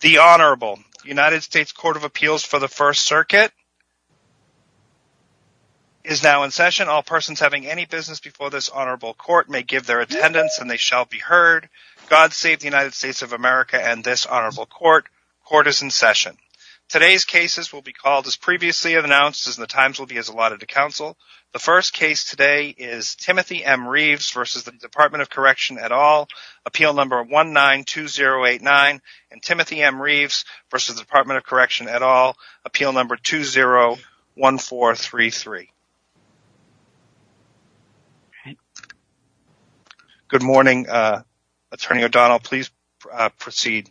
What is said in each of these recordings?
The Honorable United States Court of Appeals for the First Circuit is now in session. All persons having any business before this Honorable Court may give their attendance and they shall be heard. God save the United States of America and this Honorable Court. Court is in session. Today's cases will be called as previously announced and the times will be as allotted to counsel. The first case today is Timothy M. Reeves v. the Department of Correction et al. Appeal Number 192089 and Timothy M. Reeves v. the Department of Correction et al. Appeal Number 201433. Good morning, Attorney O'Donnell. Please proceed.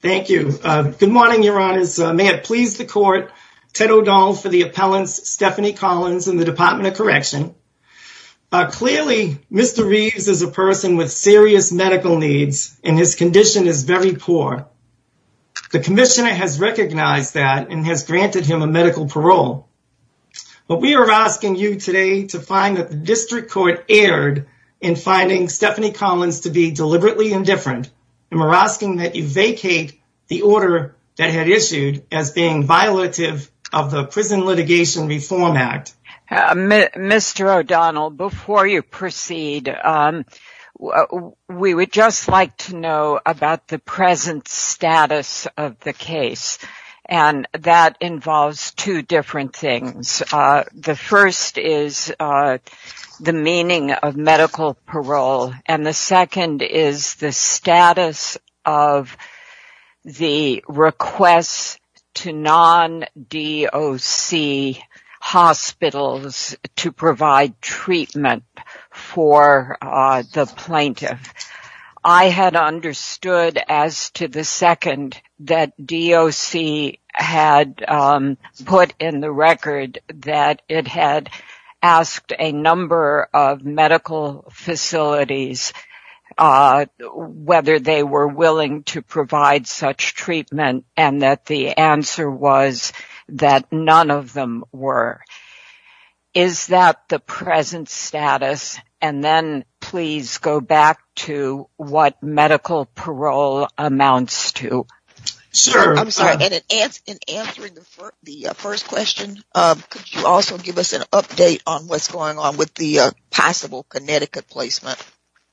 Thank you. Good morning, Your Honors. May it please the Court, Ted O'Donnell for the with serious medical needs and his condition is very poor. The Commissioner has recognized that and has granted him a medical parole. But we are asking you today to find that the District Court erred in finding Stephanie Collins to be deliberately indifferent and we're asking that you vacate the order that had issued as being violative of the Prison Litigation Reform Act. Mr. O'Donnell, before you proceed, we would just like to know about the present status of the case and that involves two different things. The first is the meaning of medical parole and the second is the status of the request to non-DOC hospitals to provide treatment for the plaintiff. I had understood as to the second that DOC had put in the record that it had asked a number of medical facilities whether they were willing to provide such treatment and that the answer was that none of them were. Is that the present status? And then please go back to what medical parole amounts to. Sure. I'm sorry. In answering the first question, could you also give us an update on what's going on with the possible Connecticut placement?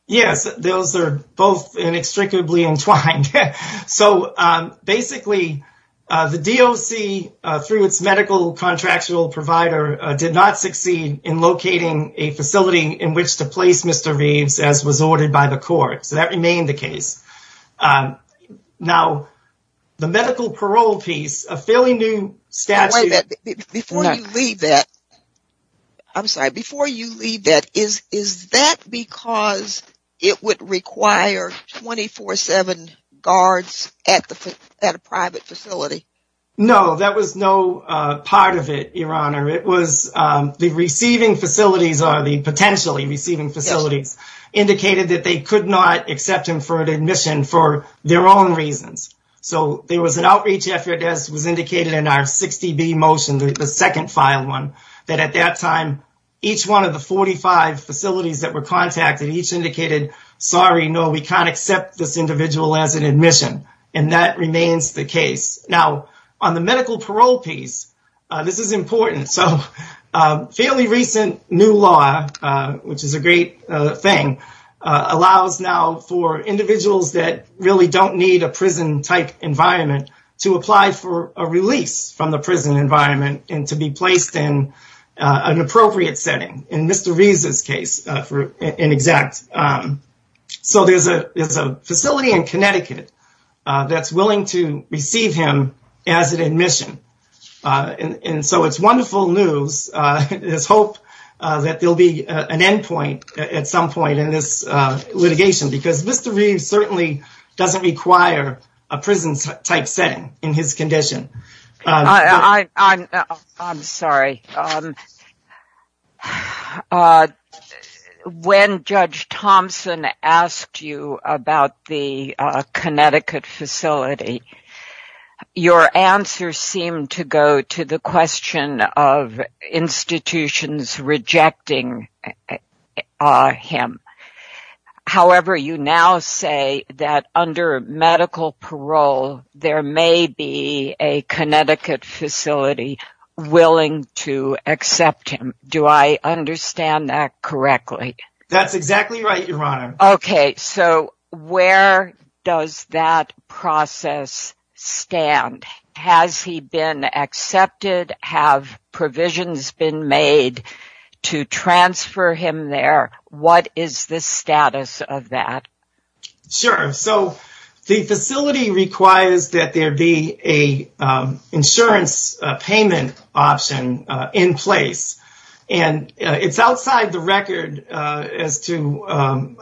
Yes, those are both inextricably entwined. So basically, the DOC, through its medical contractual provider, did not succeed in locating a facility in which to place Mr. Reeves as was ordered by the court. So that remained the is that because it would require 24-7 guards at a private facility? No, that was no part of it, Your Honor. It was the receiving facilities, or the potentially receiving facilities, indicated that they could not accept him for admission for their own reasons. So there was an outreach effort, as was indicated in our 60B motion, the second filed one, that at that time each one of the 45 facilities that were contacted each indicated, sorry, no, we can't accept this individual as an admission. And that remains the case. Now, on the medical parole piece, this is important. So fairly recent new law, which is a great thing, allows now for individuals that really don't need a prison-type environment to apply for a release from the prison environment and to be placed in an appropriate setting. In Mr. Reeves's case, for an exact. So there's a facility in Connecticut that's willing to receive him as an admission. And so it's wonderful news. There's hope that there'll be an endpoint at some point in this litigation, because Mr. Reeves certainly doesn't require a prison-type setting in his condition. I'm sorry. When Judge Thompson asked you about the Connecticut facility, your answer seemed to go to the question of institutions rejecting him. However, you now say that under medical parole, there may be a Connecticut facility willing to accept him. Do I understand that correctly? That's exactly right, Your Honor. Okay. So where does that process stand? Has he been accepted? Have provisions been made to transfer him there? What is the status of that? Sure. So the facility requires that there be an insurance payment option in place. It's outside the record as to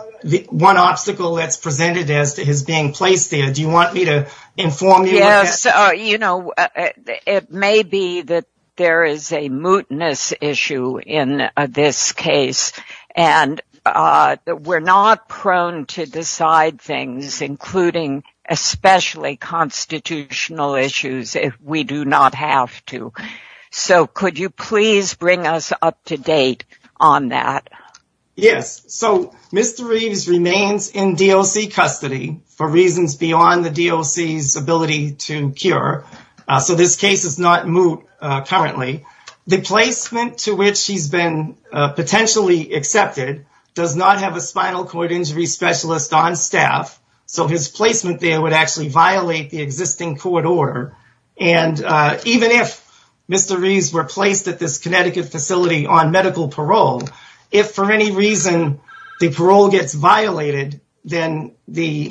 one obstacle that's presented as to his being placed there. Do you have a comment on that? Yes. So Mr. Reeves remains in DOC custody for reasons beyond the DOC's ability to cure. So this case is not moot currently. The placement to which he's been potentially accepted does not have a spinal cord injury specialist on staff, so his placement there would actually violate the existing court order. And even if Mr. Reeves were placed at this Connecticut facility on medical parole, if for any reason the parole gets violated, then he'd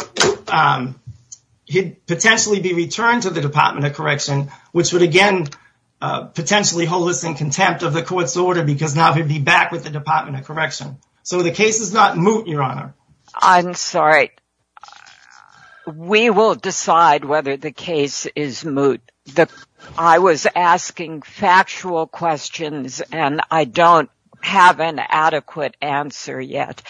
potentially be returned to the Department of Correction, which would again potentially hold us in contempt of the court's order because now he'd be back with the Department of Correction. So the case is not moot, Your Honor. I'm sorry. We will decide whether the case is moot. I was asking factual questions and I don't have an adequate answer yet.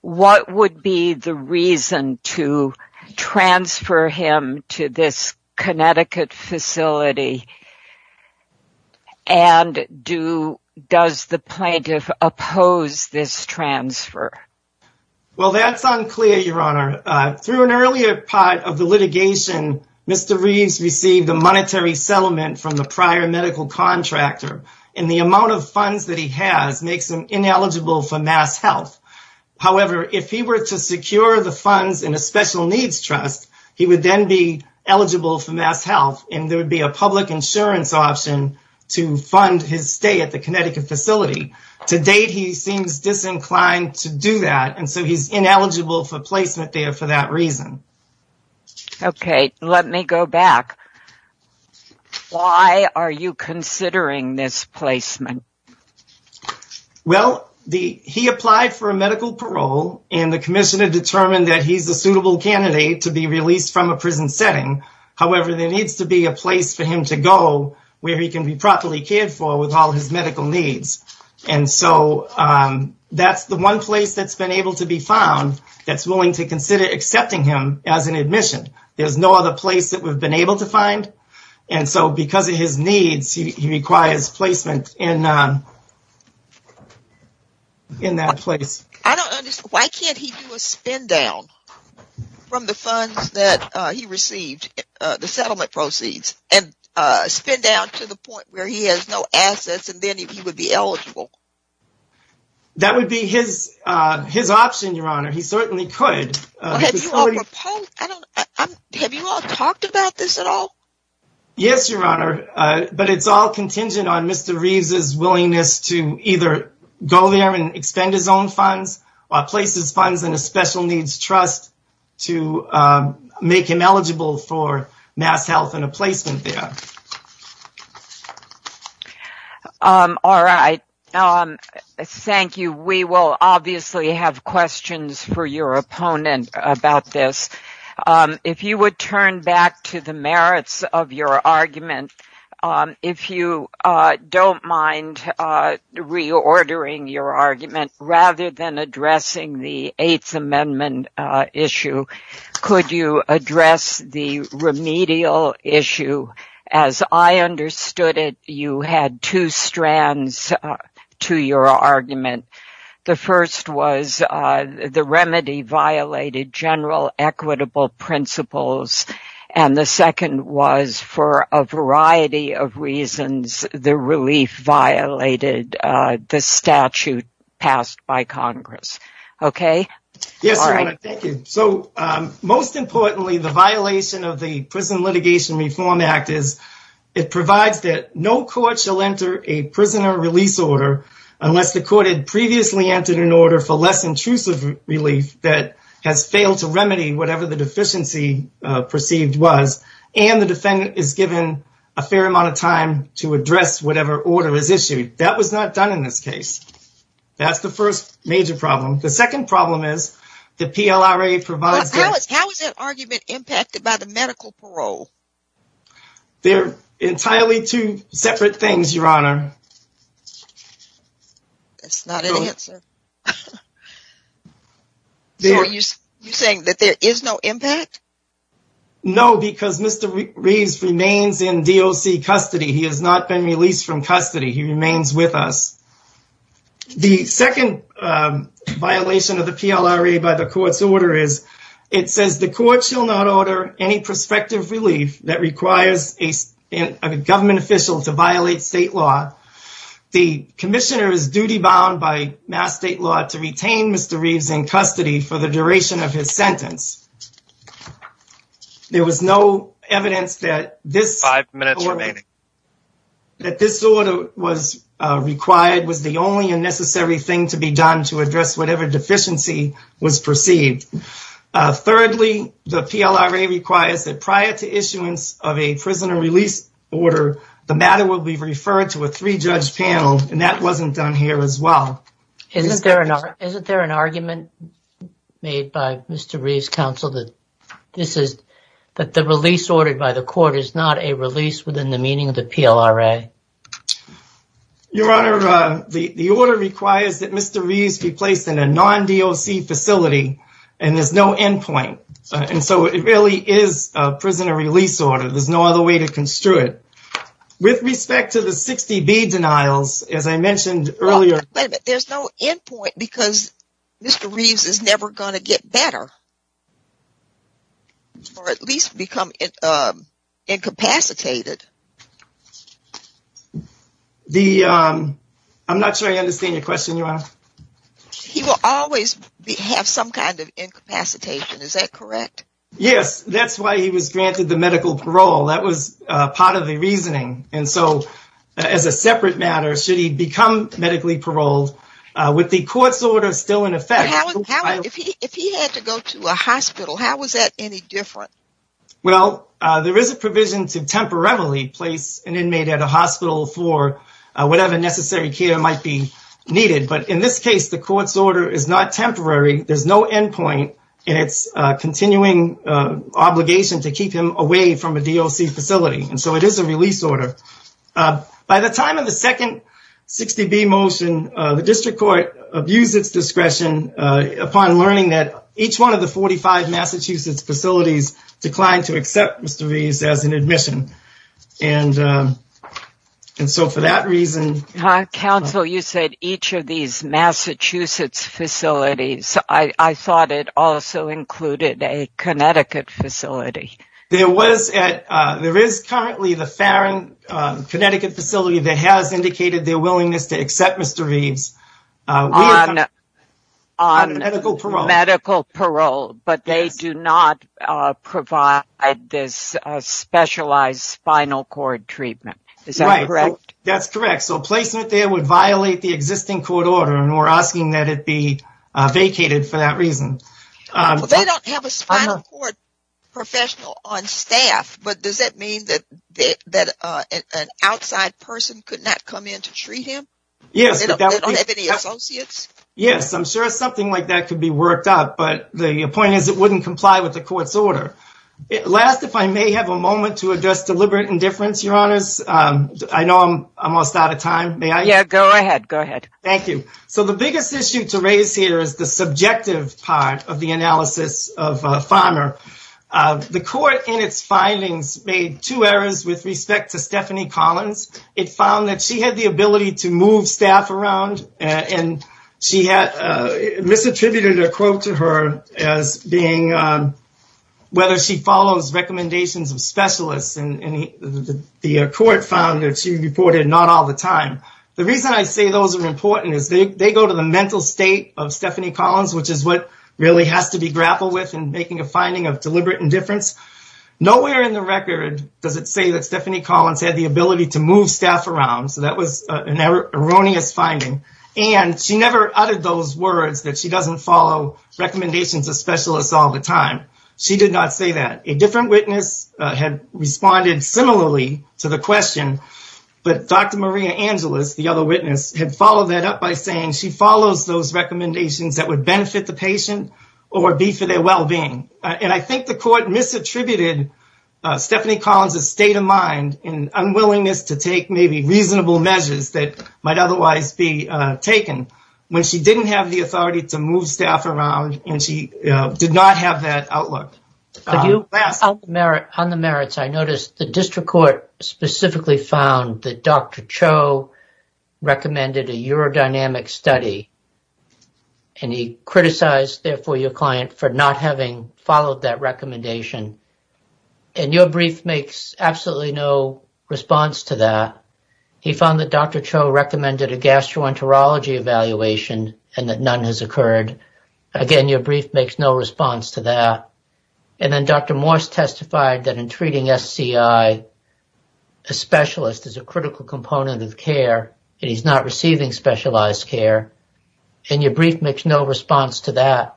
What would be the reason to transfer him to this Connecticut facility? And does the plaintiff oppose this transfer? Well, that's unclear, Your Honor. Through an earlier part of the litigation, Mr. Reeves received a monetary settlement from the prior contractor and the amount of funds that he has makes him ineligible for mass health. However, if he were to secure the funds in a special needs trust, he would then be eligible for mass health and there would be a public insurance option to fund his stay at the Connecticut facility. To date, he seems disinclined to do that and so he's ineligible for placement there for that reason. Okay, let me go back. Why are you considering this placement? Well, he applied for a medical parole and the commissioner determined that he's a suitable candidate to be released from a prison setting. However, there needs to be a place for him to go where he can be properly cared for with all his medical needs. And so that's the one place that's able to be found that's willing to consider accepting him as an admission. There's no other place that we've been able to find and so because of his needs, he requires placement in that place. I don't understand. Why can't he do a spin down from the funds that he received, the settlement proceeds, and spin down to the point where he has no assets and then he would be eligible? That would be his option, Your Honor. He certainly could. Have you all talked about this at all? Yes, Your Honor, but it's all contingent on Mr. Reeves's willingness to either go there and expend his own funds or place his funds in a special needs trust to make him eligible for mass health and a placement there. All right. Thank you. We will obviously have questions for your opponent about this. If you would turn back to the merits of your argument, if you don't mind reordering your argument rather than addressing the Eighth Amendment issue, could you address the remedial issue? As I understood it, you had two strands to your argument. The first was the remedy violated general equitable principles and the second was for a variety of reasons, the relief violated the statute passed by Congress. Okay? Yes, Your Honor. Thank you. Most importantly, the violation of the Prison Litigation Reform Act is it provides that no court shall enter a prisoner release order unless the court had previously entered an order for less intrusive relief that has failed to remedy whatever the deficiency perceived was and the defendant is given a fair amount of time to address whatever order is the PLRA provides. How is that argument impacted by the medical parole? They're entirely two separate things, Your Honor. That's not an answer. You're saying that there is no impact? No, because Mr. Reeves remains in DOC custody. He has not been released from custody. He remains with us. The second violation of the PLRA by the court's order is it says the court shall not order any prospective relief that requires a government official to violate state law. The commissioner is duty-bound by mass state law to retain Mr. Reeves in custody for the duration of his sentence. There was no evidence that this order was required was the only unnecessary thing to be done to address whatever deficiency was perceived. Thirdly, the PLRA requires that prior to issuance of a prisoner release order, the matter will be referred to a three-judge panel, and that wasn't done here as well. Isn't there an argument made by Mr. Reeves' counsel that the release ordered by the court is not a release within the meaning of the PLRA? Your Honor, the order requires that Mr. Reeves be placed in a non-DOC facility, and there's no end point, and so it really is a prisoner release order. There's no other way to construe it. With respect to the 60B denials, as I mentioned earlier, there's no end point because Mr. Reeves is never going to get better or at least become incapacitated. I'm not sure I understand your question, Your Honor. He will always have some kind of incapacitation, is that correct? Yes, that's why he was granted the medical parole. That was part of the reasoning, and so as a separate matter, should he become medically paroled, with the court's order still in effect. If he had to go to a hospital, how was that any different? Well, there is a provision to temporarily place an inmate at a hospital for whatever necessary care might be needed, but in this case, the court's order is not temporary. There's no end point, and it's a continuing obligation to keep him away from a DOC facility, and so it is a release order. By the time of the second 60B motion, the district court abused its discretion upon learning that each one of the 45 Massachusetts facilities declined to accept Mr. Reeves as an admission, and so for that reason... Counsel, you said each of these Massachusetts facilities. I thought it also included a Connecticut facility. There is currently the Farran, Connecticut facility that has indicated their willingness to accept Mr. Reeves on medical parole. But they do not provide this specialized spinal cord treatment, is that correct? That's correct, so placement there would violate the existing court order, and we're asking that it be vacated for that reason. They don't have a spinal cord professional on staff, but does that mean that an outside person could not come in to treat him? They don't have any associates? Yes, I'm sure something like that could be worked out, but the point is it wouldn't comply with the court's order. Last, if I may have a moment to address deliberate indifference, Your Honors. I know I'm almost out of time. May I? Yeah, go ahead, go ahead. Thank you. So the biggest issue to raise here is the subjective part of the analysis of Farmer. The court in its findings made two errors with respect to Stephanie Collins. It found that she had the ability to move staff around, and she misattributed a quote to her as being whether she follows recommendations of specialists, and the court found that she not all the time. The reason I say those are important is they go to the mental state of Stephanie Collins, which is what really has to be grappled with in making a finding of deliberate indifference. Nowhere in the record does it say that Stephanie Collins had the ability to move staff around, so that was an erroneous finding, and she never uttered those words that she doesn't follow recommendations of specialists all the time. She did not say that. A different witness had responded similarly to the question, but Dr. Maria Angelis, the other witness, had followed that up by saying she follows those recommendations that would benefit the patient or be for their well-being, and I think the court misattributed Stephanie Collins' state of mind and unwillingness to take maybe reasonable measures that might otherwise be taken when she didn't have the authority to move staff around, and she did not have that outlook. For you, on the merits, I noticed the district court specifically found that Dr. Cho recommended a urodynamic study, and he criticized, therefore, your client for not having followed that recommendation, and your brief makes absolutely no response to that. He found that Dr. Cho recommended a gastroenterology evaluation and that none has occurred. Again, your brief makes no response to that, and then Dr. Morse testified that in treating SCI, a specialist is a critical component of care, and he's not receiving specialized care, and your brief makes no response to that.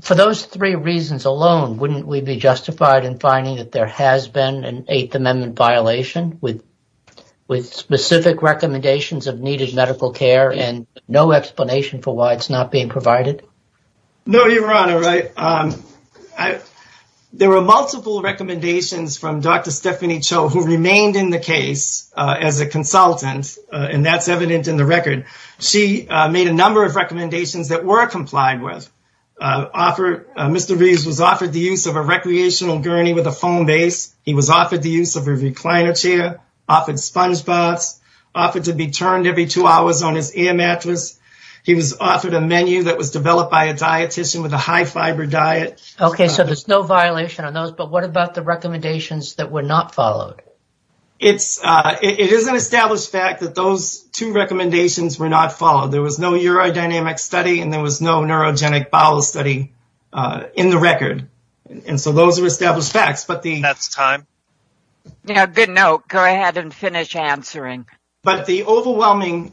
For those three reasons alone, wouldn't we be justified in finding that there has been an Eighth Amendment violation with specific recommendations of needed care and no explanation for why it's not being provided? No, Your Honor. There were multiple recommendations from Dr. Stephanie Cho who remained in the case as a consultant, and that's evident in the record. She made a number of recommendations that were complied with. Mr. Reeves was offered the use of a recreational gurney with a foam base. He was offered the use of a recliner chair, offered sponge baths, offered to be turned every two hours on his ear mattress. He was offered a menu that was developed by a dietician with a high-fiber diet. Okay, so there's no violation on those, but what about the recommendations that were not followed? It is an established fact that those two recommendations were not followed. There was no urodynamic study, and there was no neurogenic bowel study in the record, and so those are established facts. That's time. Yeah, good note. Go ahead and finish answering. But the overwhelming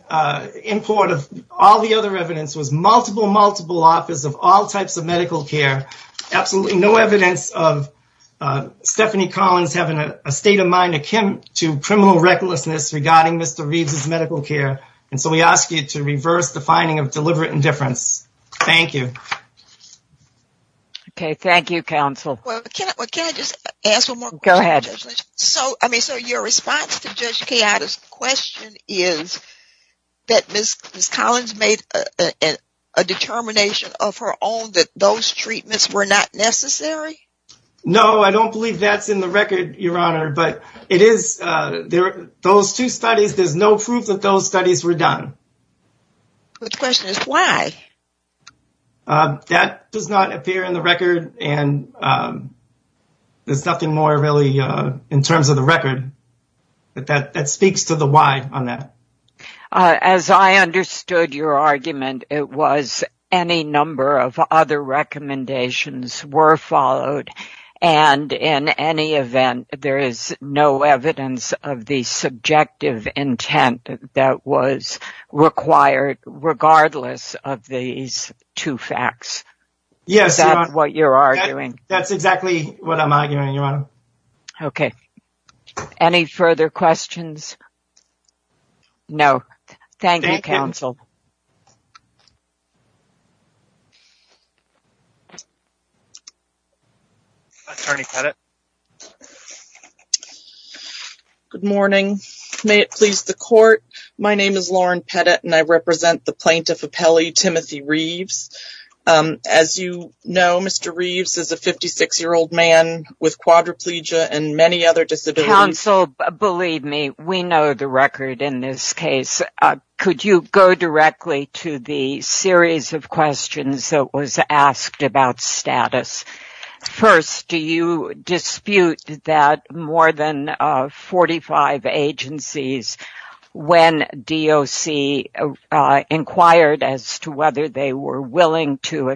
import of all the other evidence was multiple, multiple offers of all types of medical care. Absolutely no evidence of Stephanie Collins having a state of mind akin to criminal recklessness regarding Mr. Reeves' medical care, and so we ask you to reverse the finding of deliberate indifference. Thank you. Okay, thank you, counsel. Well, can I just ask one more question? Go ahead. So, I mean, so your response to Judge Kea'ida's question is that Ms. Collins made a determination of her own that those treatments were not necessary? No, I don't believe that's in the record, Your Honor, but it is. Those two studies, there's no proof that those studies were done. The question is why? That does not appear in the record, and there's nothing more really in terms of the record that speaks to the why on that. As I understood your argument, it was any number of other recommendations were followed, and in any event, there is no evidence of the subjective intent that was required regardless of these two facts. Yes. Is that what you're arguing? That's exactly what I'm arguing, Okay. Any further questions? No. Thank you, counsel. Good morning. May it please the court, my name is Lauren Pettit, and I represent the plaintiff and many other disabilities. Counsel, believe me, we know the record in this case. Could you go directly to the series of questions that was asked about status? First, do you dispute that more than 45 agencies, when DOC inquired as to whether they were willing to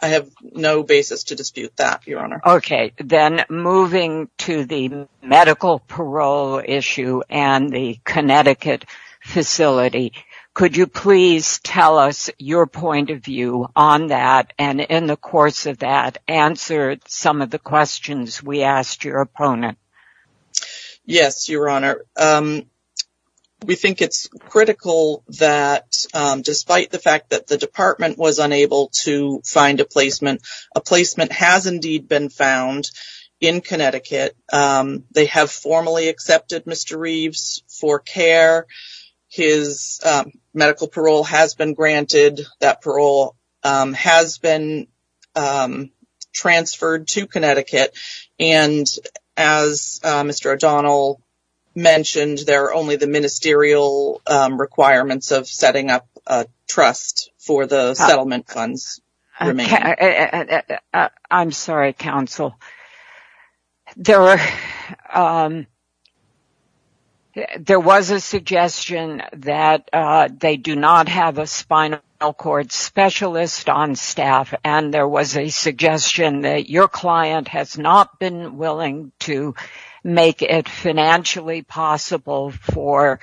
I have no basis to dispute that, Your Honor. Okay, then moving to the medical parole issue and the Connecticut facility, could you please tell us your point of view on that, and in the course of that, answer some of the questions we asked your opponent? Yes, Your Honor. We think it's critical that despite the fact that the department was unable to find a placement, a placement has indeed been found in Connecticut. They have formally accepted Mr. Reeves for care. His medical parole has been granted. That parole has been transferred to Connecticut, and as Mr. O'Donnell mentioned, there are only the ministerial requirements of setting up trust for the settlement funds. I'm sorry, Counsel. There was a suggestion that they do not have a spinal cord specialist on staff, and there was a suggestion that your client has not been willing to make it financially possible for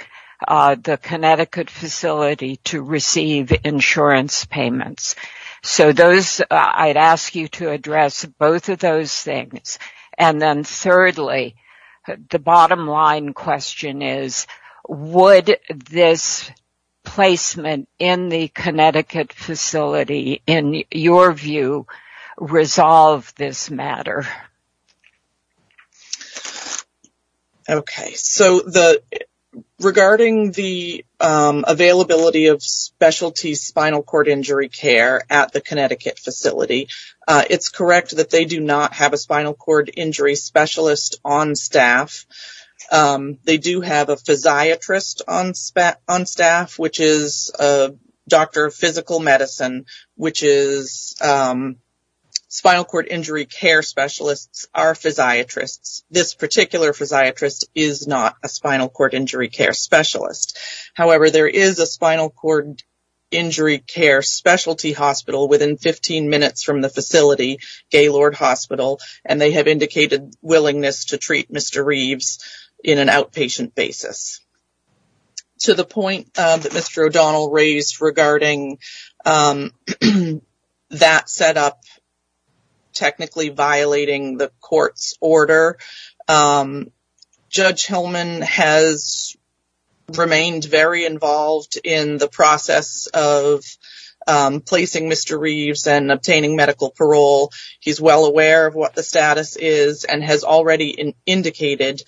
the Connecticut facility to receive insurance payments. So those, I'd ask you to address both of those things, and then thirdly, the bottom line question is, would this placement in the Connecticut facility, in your view, resolve this matter? Okay. So regarding the availability of specialty spinal cord injury care at the Connecticut facility, it's correct that they do not have a spinal cord injury specialist on staff. They do have a physiatrist on staff, which is a doctor of physical medicine, which is specialists are physiatrists. This particular physiatrist is not a spinal cord injury care specialist. However, there is a spinal cord injury care specialty hospital within 15 minutes from the facility, Gaylord Hospital, and they have indicated willingness to treat Mr. Reeves in an outpatient basis. To the point that Mr. O'Donnell raised regarding that setup technically violating the court's order, Judge Hillman has remained very involved in the process of placing Mr. Reeves and obtaining medical parole. He's well aware of what the status is and has already indicated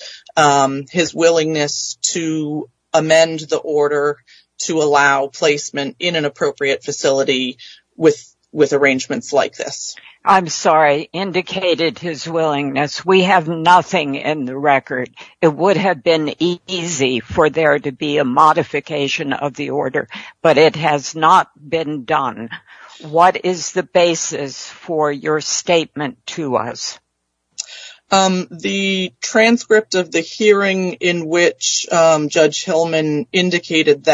his willingness to amend the facility with arrangements like this. I'm sorry, indicated his willingness. We have nothing in the record. It would have been easy for there to be a modification of the order, but it has not been done. What is the basis for your statement to us? The transcript of the hearing in which Judge O'Donnell was asked to amend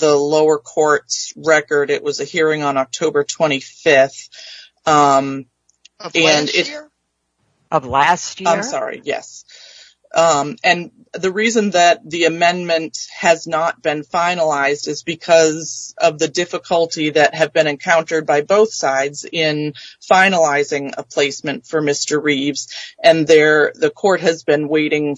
the court's record, it was a hearing on October 25th of last year. The reason that the amendment has not been finalized is because of the difficulty that has been encountered by both sides in finalizing a placement for Mr. Reeves. The court has been waiting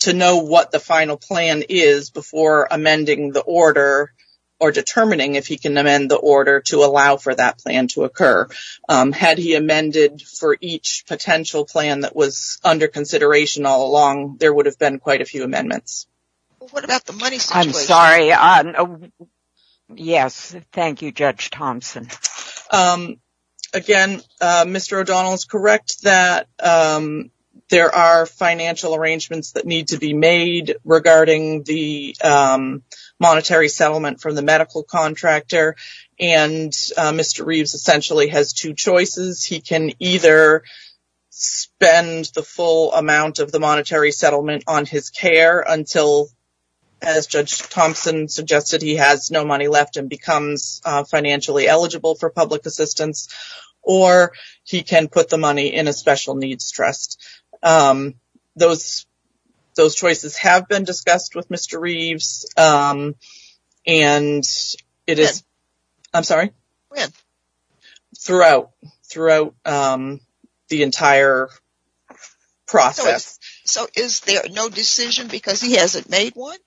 to know what the final plan is before amending the order or determining if he can amend the order to allow for that plan to occur. Had he amended for each potential plan that was under consideration all along, there would have been quite a few amendments. What about the money situation? I'm sorry. Yes. Thank you, Judge Thompson. Again, Mr. O'Donnell is correct that there are financial arrangements that need to be made regarding the monetary settlement from the medical contractor, and Mr. Reeves essentially has two options. He can either wait until, as Judge Thompson suggested, he has no money left and becomes financially eligible for public assistance, or he can put the money in a special needs trust. Those choices have been discussed with Mr. Reeves throughout the entire process. So, is there no decision because he hasn't made one?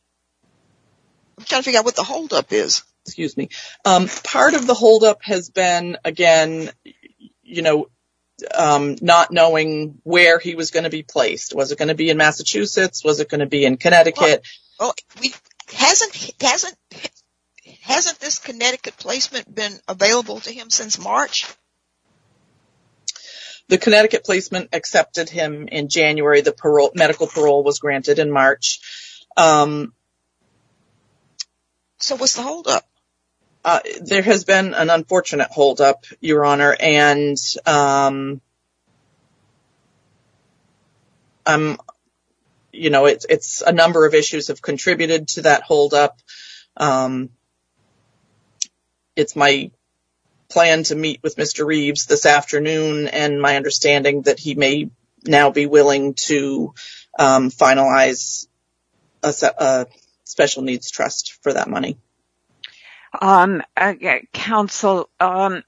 I'm trying to figure out what the holdup is. Excuse me. Part of the holdup has been, again, not knowing where he was going to be placed. Was it going to be in Massachusetts? Was it going to be in Connecticut? Hasn't this Connecticut placement been available to him since March? The Connecticut placement accepted him in January. The medical parole was granted in March. So, what's the holdup? There has been an unfortunate holdup, Your Honor, and you know, a number of issues have contributed to that holdup. It's my plan to meet with Mr. Reeves this afternoon and my understanding that he may now be willing to finalize a special needs trust for that money. Counsel, the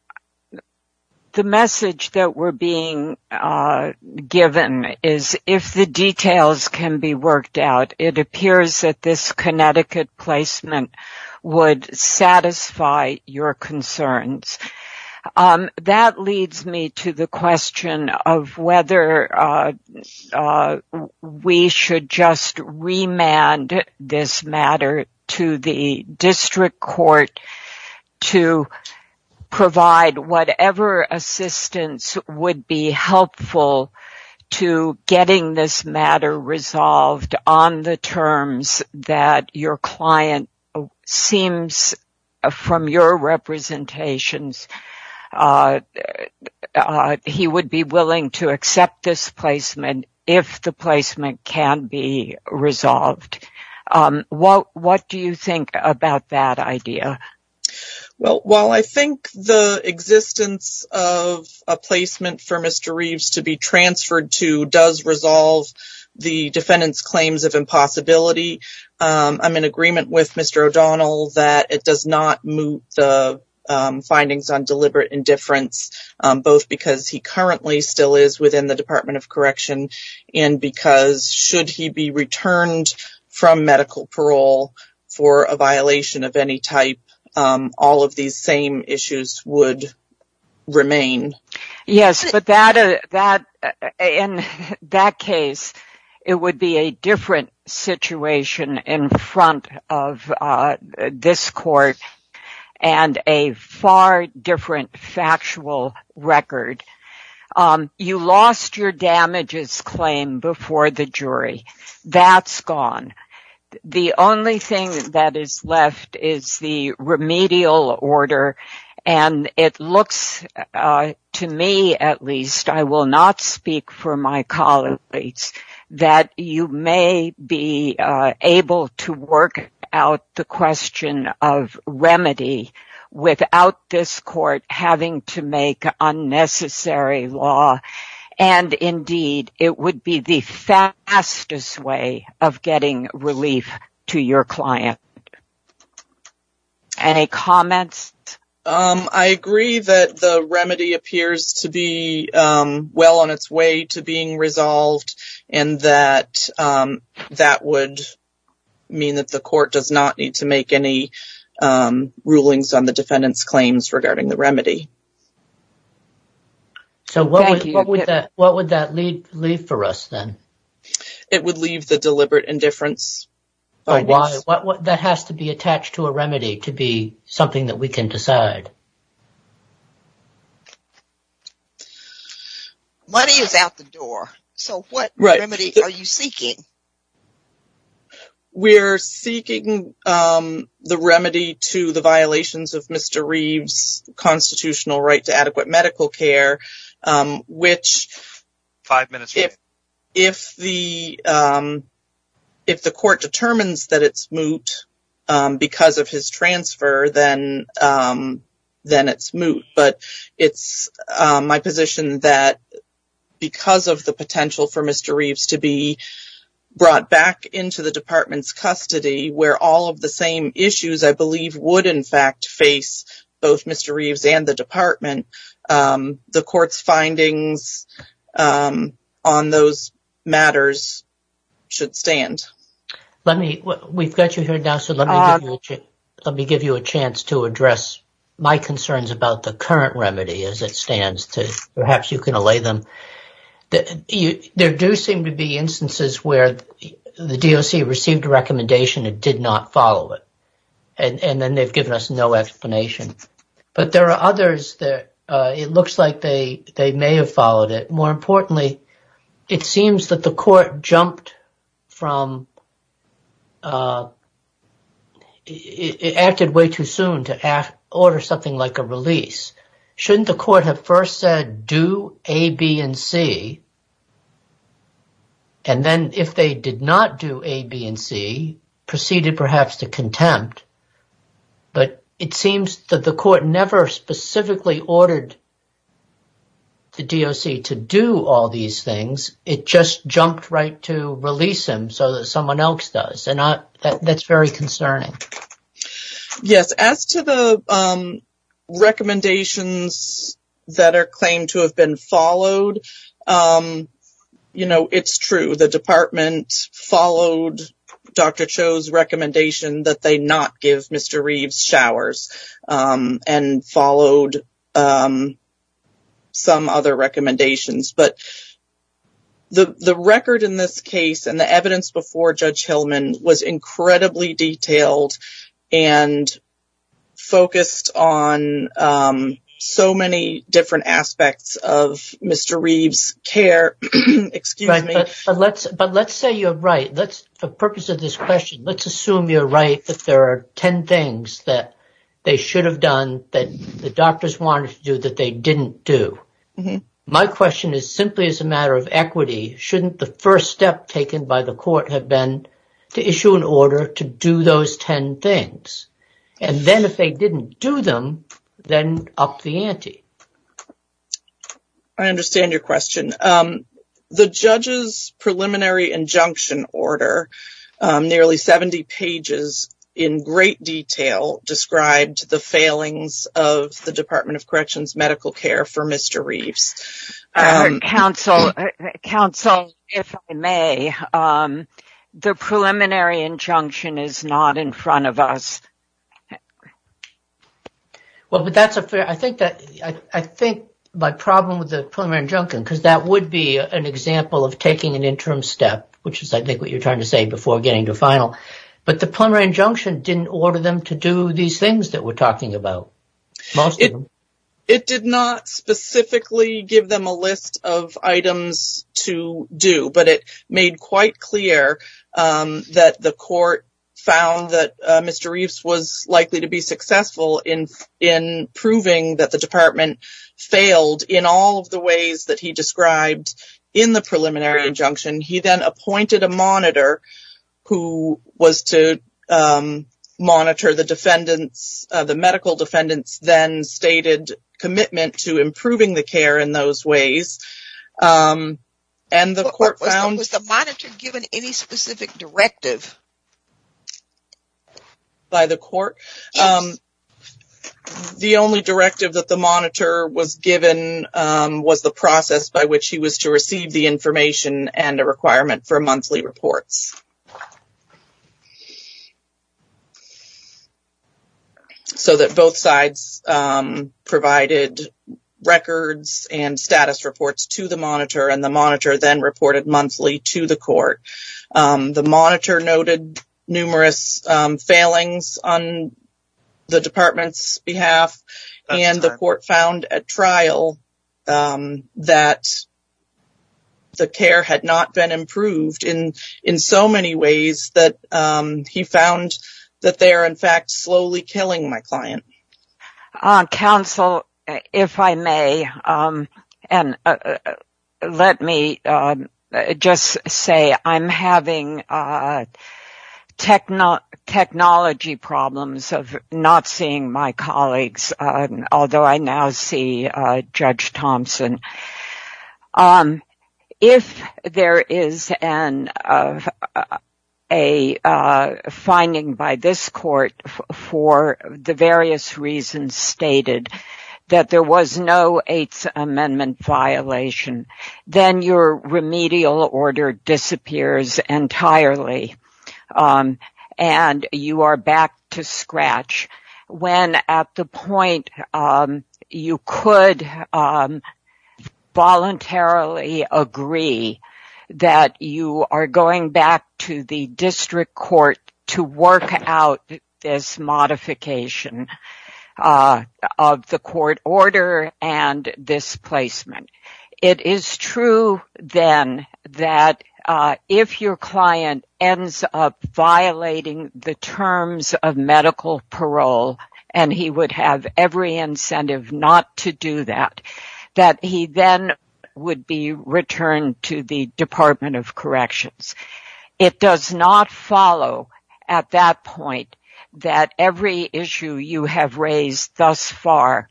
message that we're being given is, if the details can be worked out, it appears that this Connecticut placement would satisfy your concerns. That leads me to the question of whether we should just remand this matter to the district court to provide whatever assistance would be helpful to getting this matter resolved on the terms that your client seems, from your representations, he would be willing to accept this placement if the placement can be resolved. Well, what do you think about that idea? Well, while I think the existence of a placement for Mr. Reeves to be transferred to does resolve the defendant's claims of impossibility, I'm in agreement with Mr. O'Donnell that it does not move the findings on deliberate indifference, both because he currently still is in the Department of Correction and because, should he be returned from medical parole for a violation of any type, all of these same issues would remain. Yes, but in that case, it would be a different situation in front of this court and a far different factual record. You lost your damages claim before the jury. That's gone. The only thing that is left is the remedial order and it looks, to me at least, I will not speak for my colleagues, that you may be able to work out the question of remedy without this court having to make unnecessary law and, indeed, it would be the fastest way of getting relief to your client. Any comments? I agree that the remedy appears to be well on its way to being resolved and that that would mean that the court does not need to make any rulings on the defendant's claims regarding the remedy. So, what would that leave for us then? It would leave the deliberate indifference. Why? That has to be attached to a remedy to be something that we can decide. Money is out the door. So, what remedy are you seeking? We're seeking the remedy to the violations of Mr. Reeve's constitutional right to adequate medical care, which if the court determines that it's moot because of his transfer, then it's moot. But it's my position that because of the potential for Mr. Reeves to be brought back into the department's custody where all of the same issues, I believe, would, in fact, face both Mr. Reeves and the department, the court's findings on those matters should stand. We've got you here now, so let me give you a chance to address my concerns about the current remedy as it stands. Perhaps you can allay them. There do seem to be instances where the DOC received a recommendation and did not follow it, and then they've given us no explanation. But there are others that it looks like they may have followed it. More importantly, it seems that the court jumped from – it acted way too soon to order something like a release. Shouldn't the court have first said do A, B, and C, and then if they did not do A, B, and C, proceeded perhaps to contempt? But it seems that the court never specifically ordered the DOC to do all these things. It just jumped right to release him so that someone else does, and that's very concerning. Yes, as to the recommendations that are claimed to have been recommended, the DOC never chose recommendation that they not give Mr. Reeves showers and followed some other recommendations. But the record in this case and the evidence before Judge Hillman was incredibly detailed and focused on so many different aspects of Mr. Reeves' care. Excuse me. But let's say you're right. The purpose of this question, let's assume you're right that there are 10 things that they should have done that the doctors wanted to do that they didn't do. My question is simply as a matter of equity, shouldn't the first step taken by the court have been to issue an order to do those 10 things? And then if they didn't do them, then up the ante. I understand your question. The judge's preliminary injunction order, nearly 70 pages in great detail, described the failings of the Department of Corrections Medical Care for Mr. Reeves. Counsel, if I may, the preliminary injunction is not in front of us. Well, but that's a fair, I think that, I think my problem with the preliminary injunction, because that would be an example of taking an interim step, which is I think what you're trying to say before getting to final. But the preliminary injunction didn't order them to do these things that we're talking about. It did not specifically give them a list of items to do, but it made quite clear that the court found that Mr. Reeves was likely to be successful in proving that the department failed in all of the ways that he described in the preliminary injunction. He then appointed a monitor who was to monitor the defendants, the medical defendants then stated commitment to improving the care in those ways. And the court found... Was the monitor given any specific directive? By the court? The only directive that the monitor was given was the process by which he was to receive the information and a requirement for monthly reports. So that both sides provided records and status reports to the monitor, and the monitor then reported monthly to the court. The monitor noted numerous failings on the department's behalf, and the court found at trial that the care had not been improved in so many ways that he found that they are in fact slowly killing my client. Counsel, if I may, and let me just say I'm having technology problems of seeing my colleagues, although I now see Judge Thompson. If there is a finding by this court for the various reasons stated that there was no Eighth Amendment violation, then your remedial order disappears entirely and you are back to scratch when at the point you could voluntarily agree that you are going back to the district court to work out this modification of the court order and this placement. It is true then that if your client ends up violating the terms of medical parole, and he would have every incentive not to do that, that he then would be returned to the Department of Corrections. It does not follow at that point that every issue you have raised thus far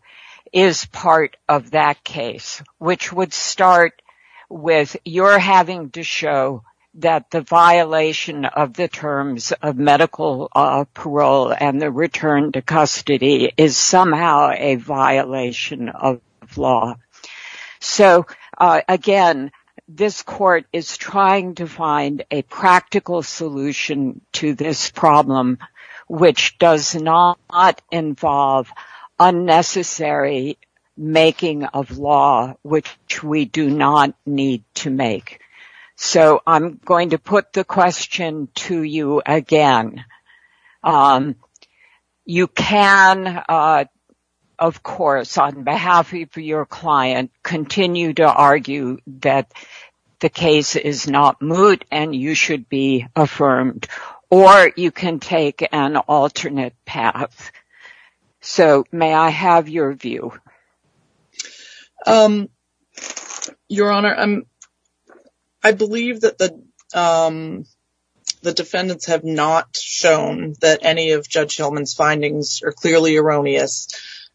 is part of that case, which would start with your having to show that the violation of the terms of medical parole and the return to custody is somehow a violation of law. So again, this court is trying to find a practical solution to this problem, which does not involve unnecessary making of law, which we do not need to make. So I'm going to put the question to you again. You can, of course, on behalf of your client, continue to argue that the case is not moot and you should be affirmed, or you can take an alternate path. So may I have your view? Your Honor, I believe that the defendants have not shown that any of Judge Hillman's findings are clearly erroneous.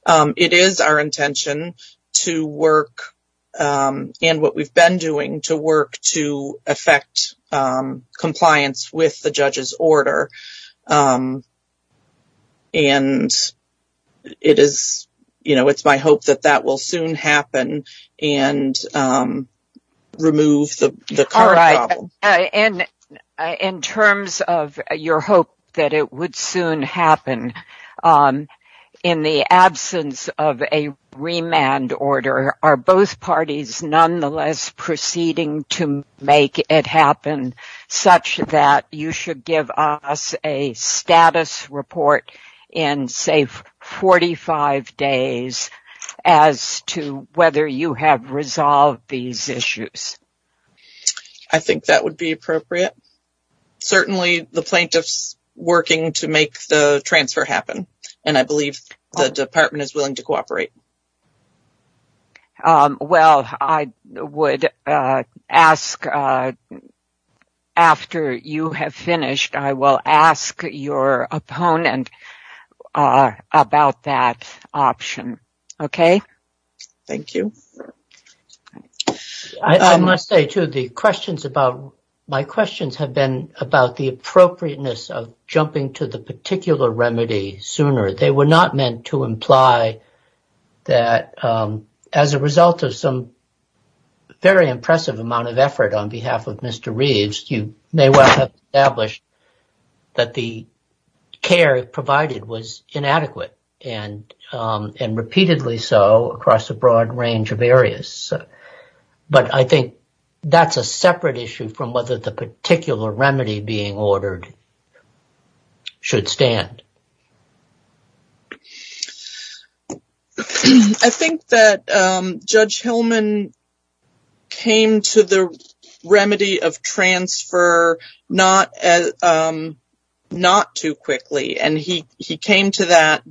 It is our intention to work, and what we've been doing, to work to affect compliance with the judge's order. And it is, you know, it's my hope that that will soon happen. In the absence of a remand order, are both parties nonetheless proceeding to make it happen such that you should give us a status report in, say, 45 days as to whether you have resolved these issues? I think that would be appropriate. Certainly the plaintiffs working to make the transfer happen, and I believe the department is willing to cooperate. Well, I would ask, after you have finished, I will ask your opponent about that option. Okay? Thank you. I must say, too, the questions about, my questions have been about the appropriateness of jumping to the particular remedy sooner. They were not meant to imply that, as a result of some very impressive amount of effort on behalf of Mr. Reeves, you may well have established that the care provided was inadequate, and repeatedly so across a broad range of areas. But I think that's a separate issue from whether the particular remedy being ordered should stand. I think that Judge Hillman came to the remedy of transfer not too quickly, and he came to that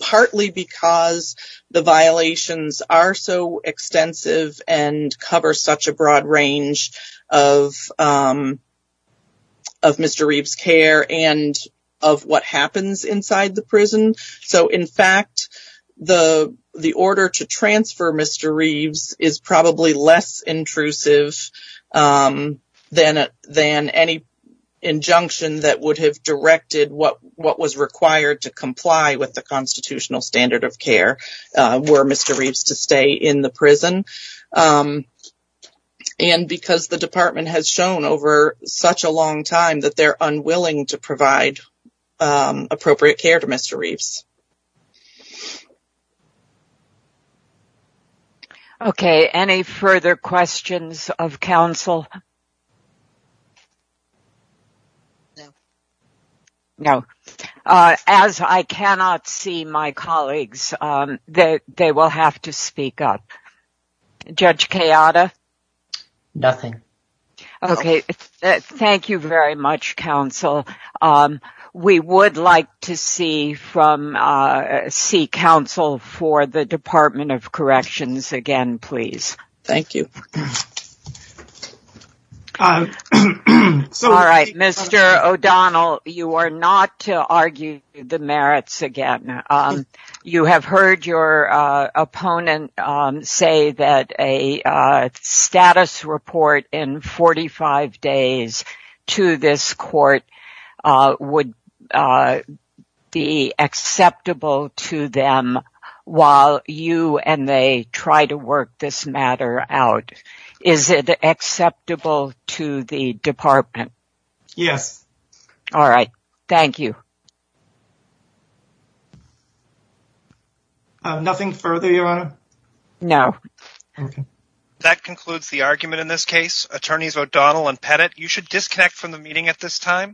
partly because the violations are so extensive and cover such a broad range of Mr. Reeves' care and of what happens inside the prison. So, in fact, the order to transfer Mr. Reeves is probably less intrusive than any injunction that would have directed what was required to comply with the constitutional standard of care were Mr. Reeves to stay in the prison. And because the department has shown over such a long time that they're unwilling to provide appropriate care to Mr. Reeves. Okay, any further questions of counsel? No. No. As I cannot see my colleagues, they will have to speak up. Judge Kayada? Nothing. Okay, thank you very much, counsel. We would like to see counsel for the Department of Corrections again, please. Thank you. All right, Mr. O'Donnell, you are not to argue the merits again. You have heard your opponent say that a status report in 45 days to this court would be acceptable to them while you and they try to work this matter out. Is it acceptable to the department? Yes. All right, thank you. Nothing further, Your Honor? No. That concludes the argument in this case. Attorneys O'Donnell and Pettit, you should disconnect from the meeting at this time.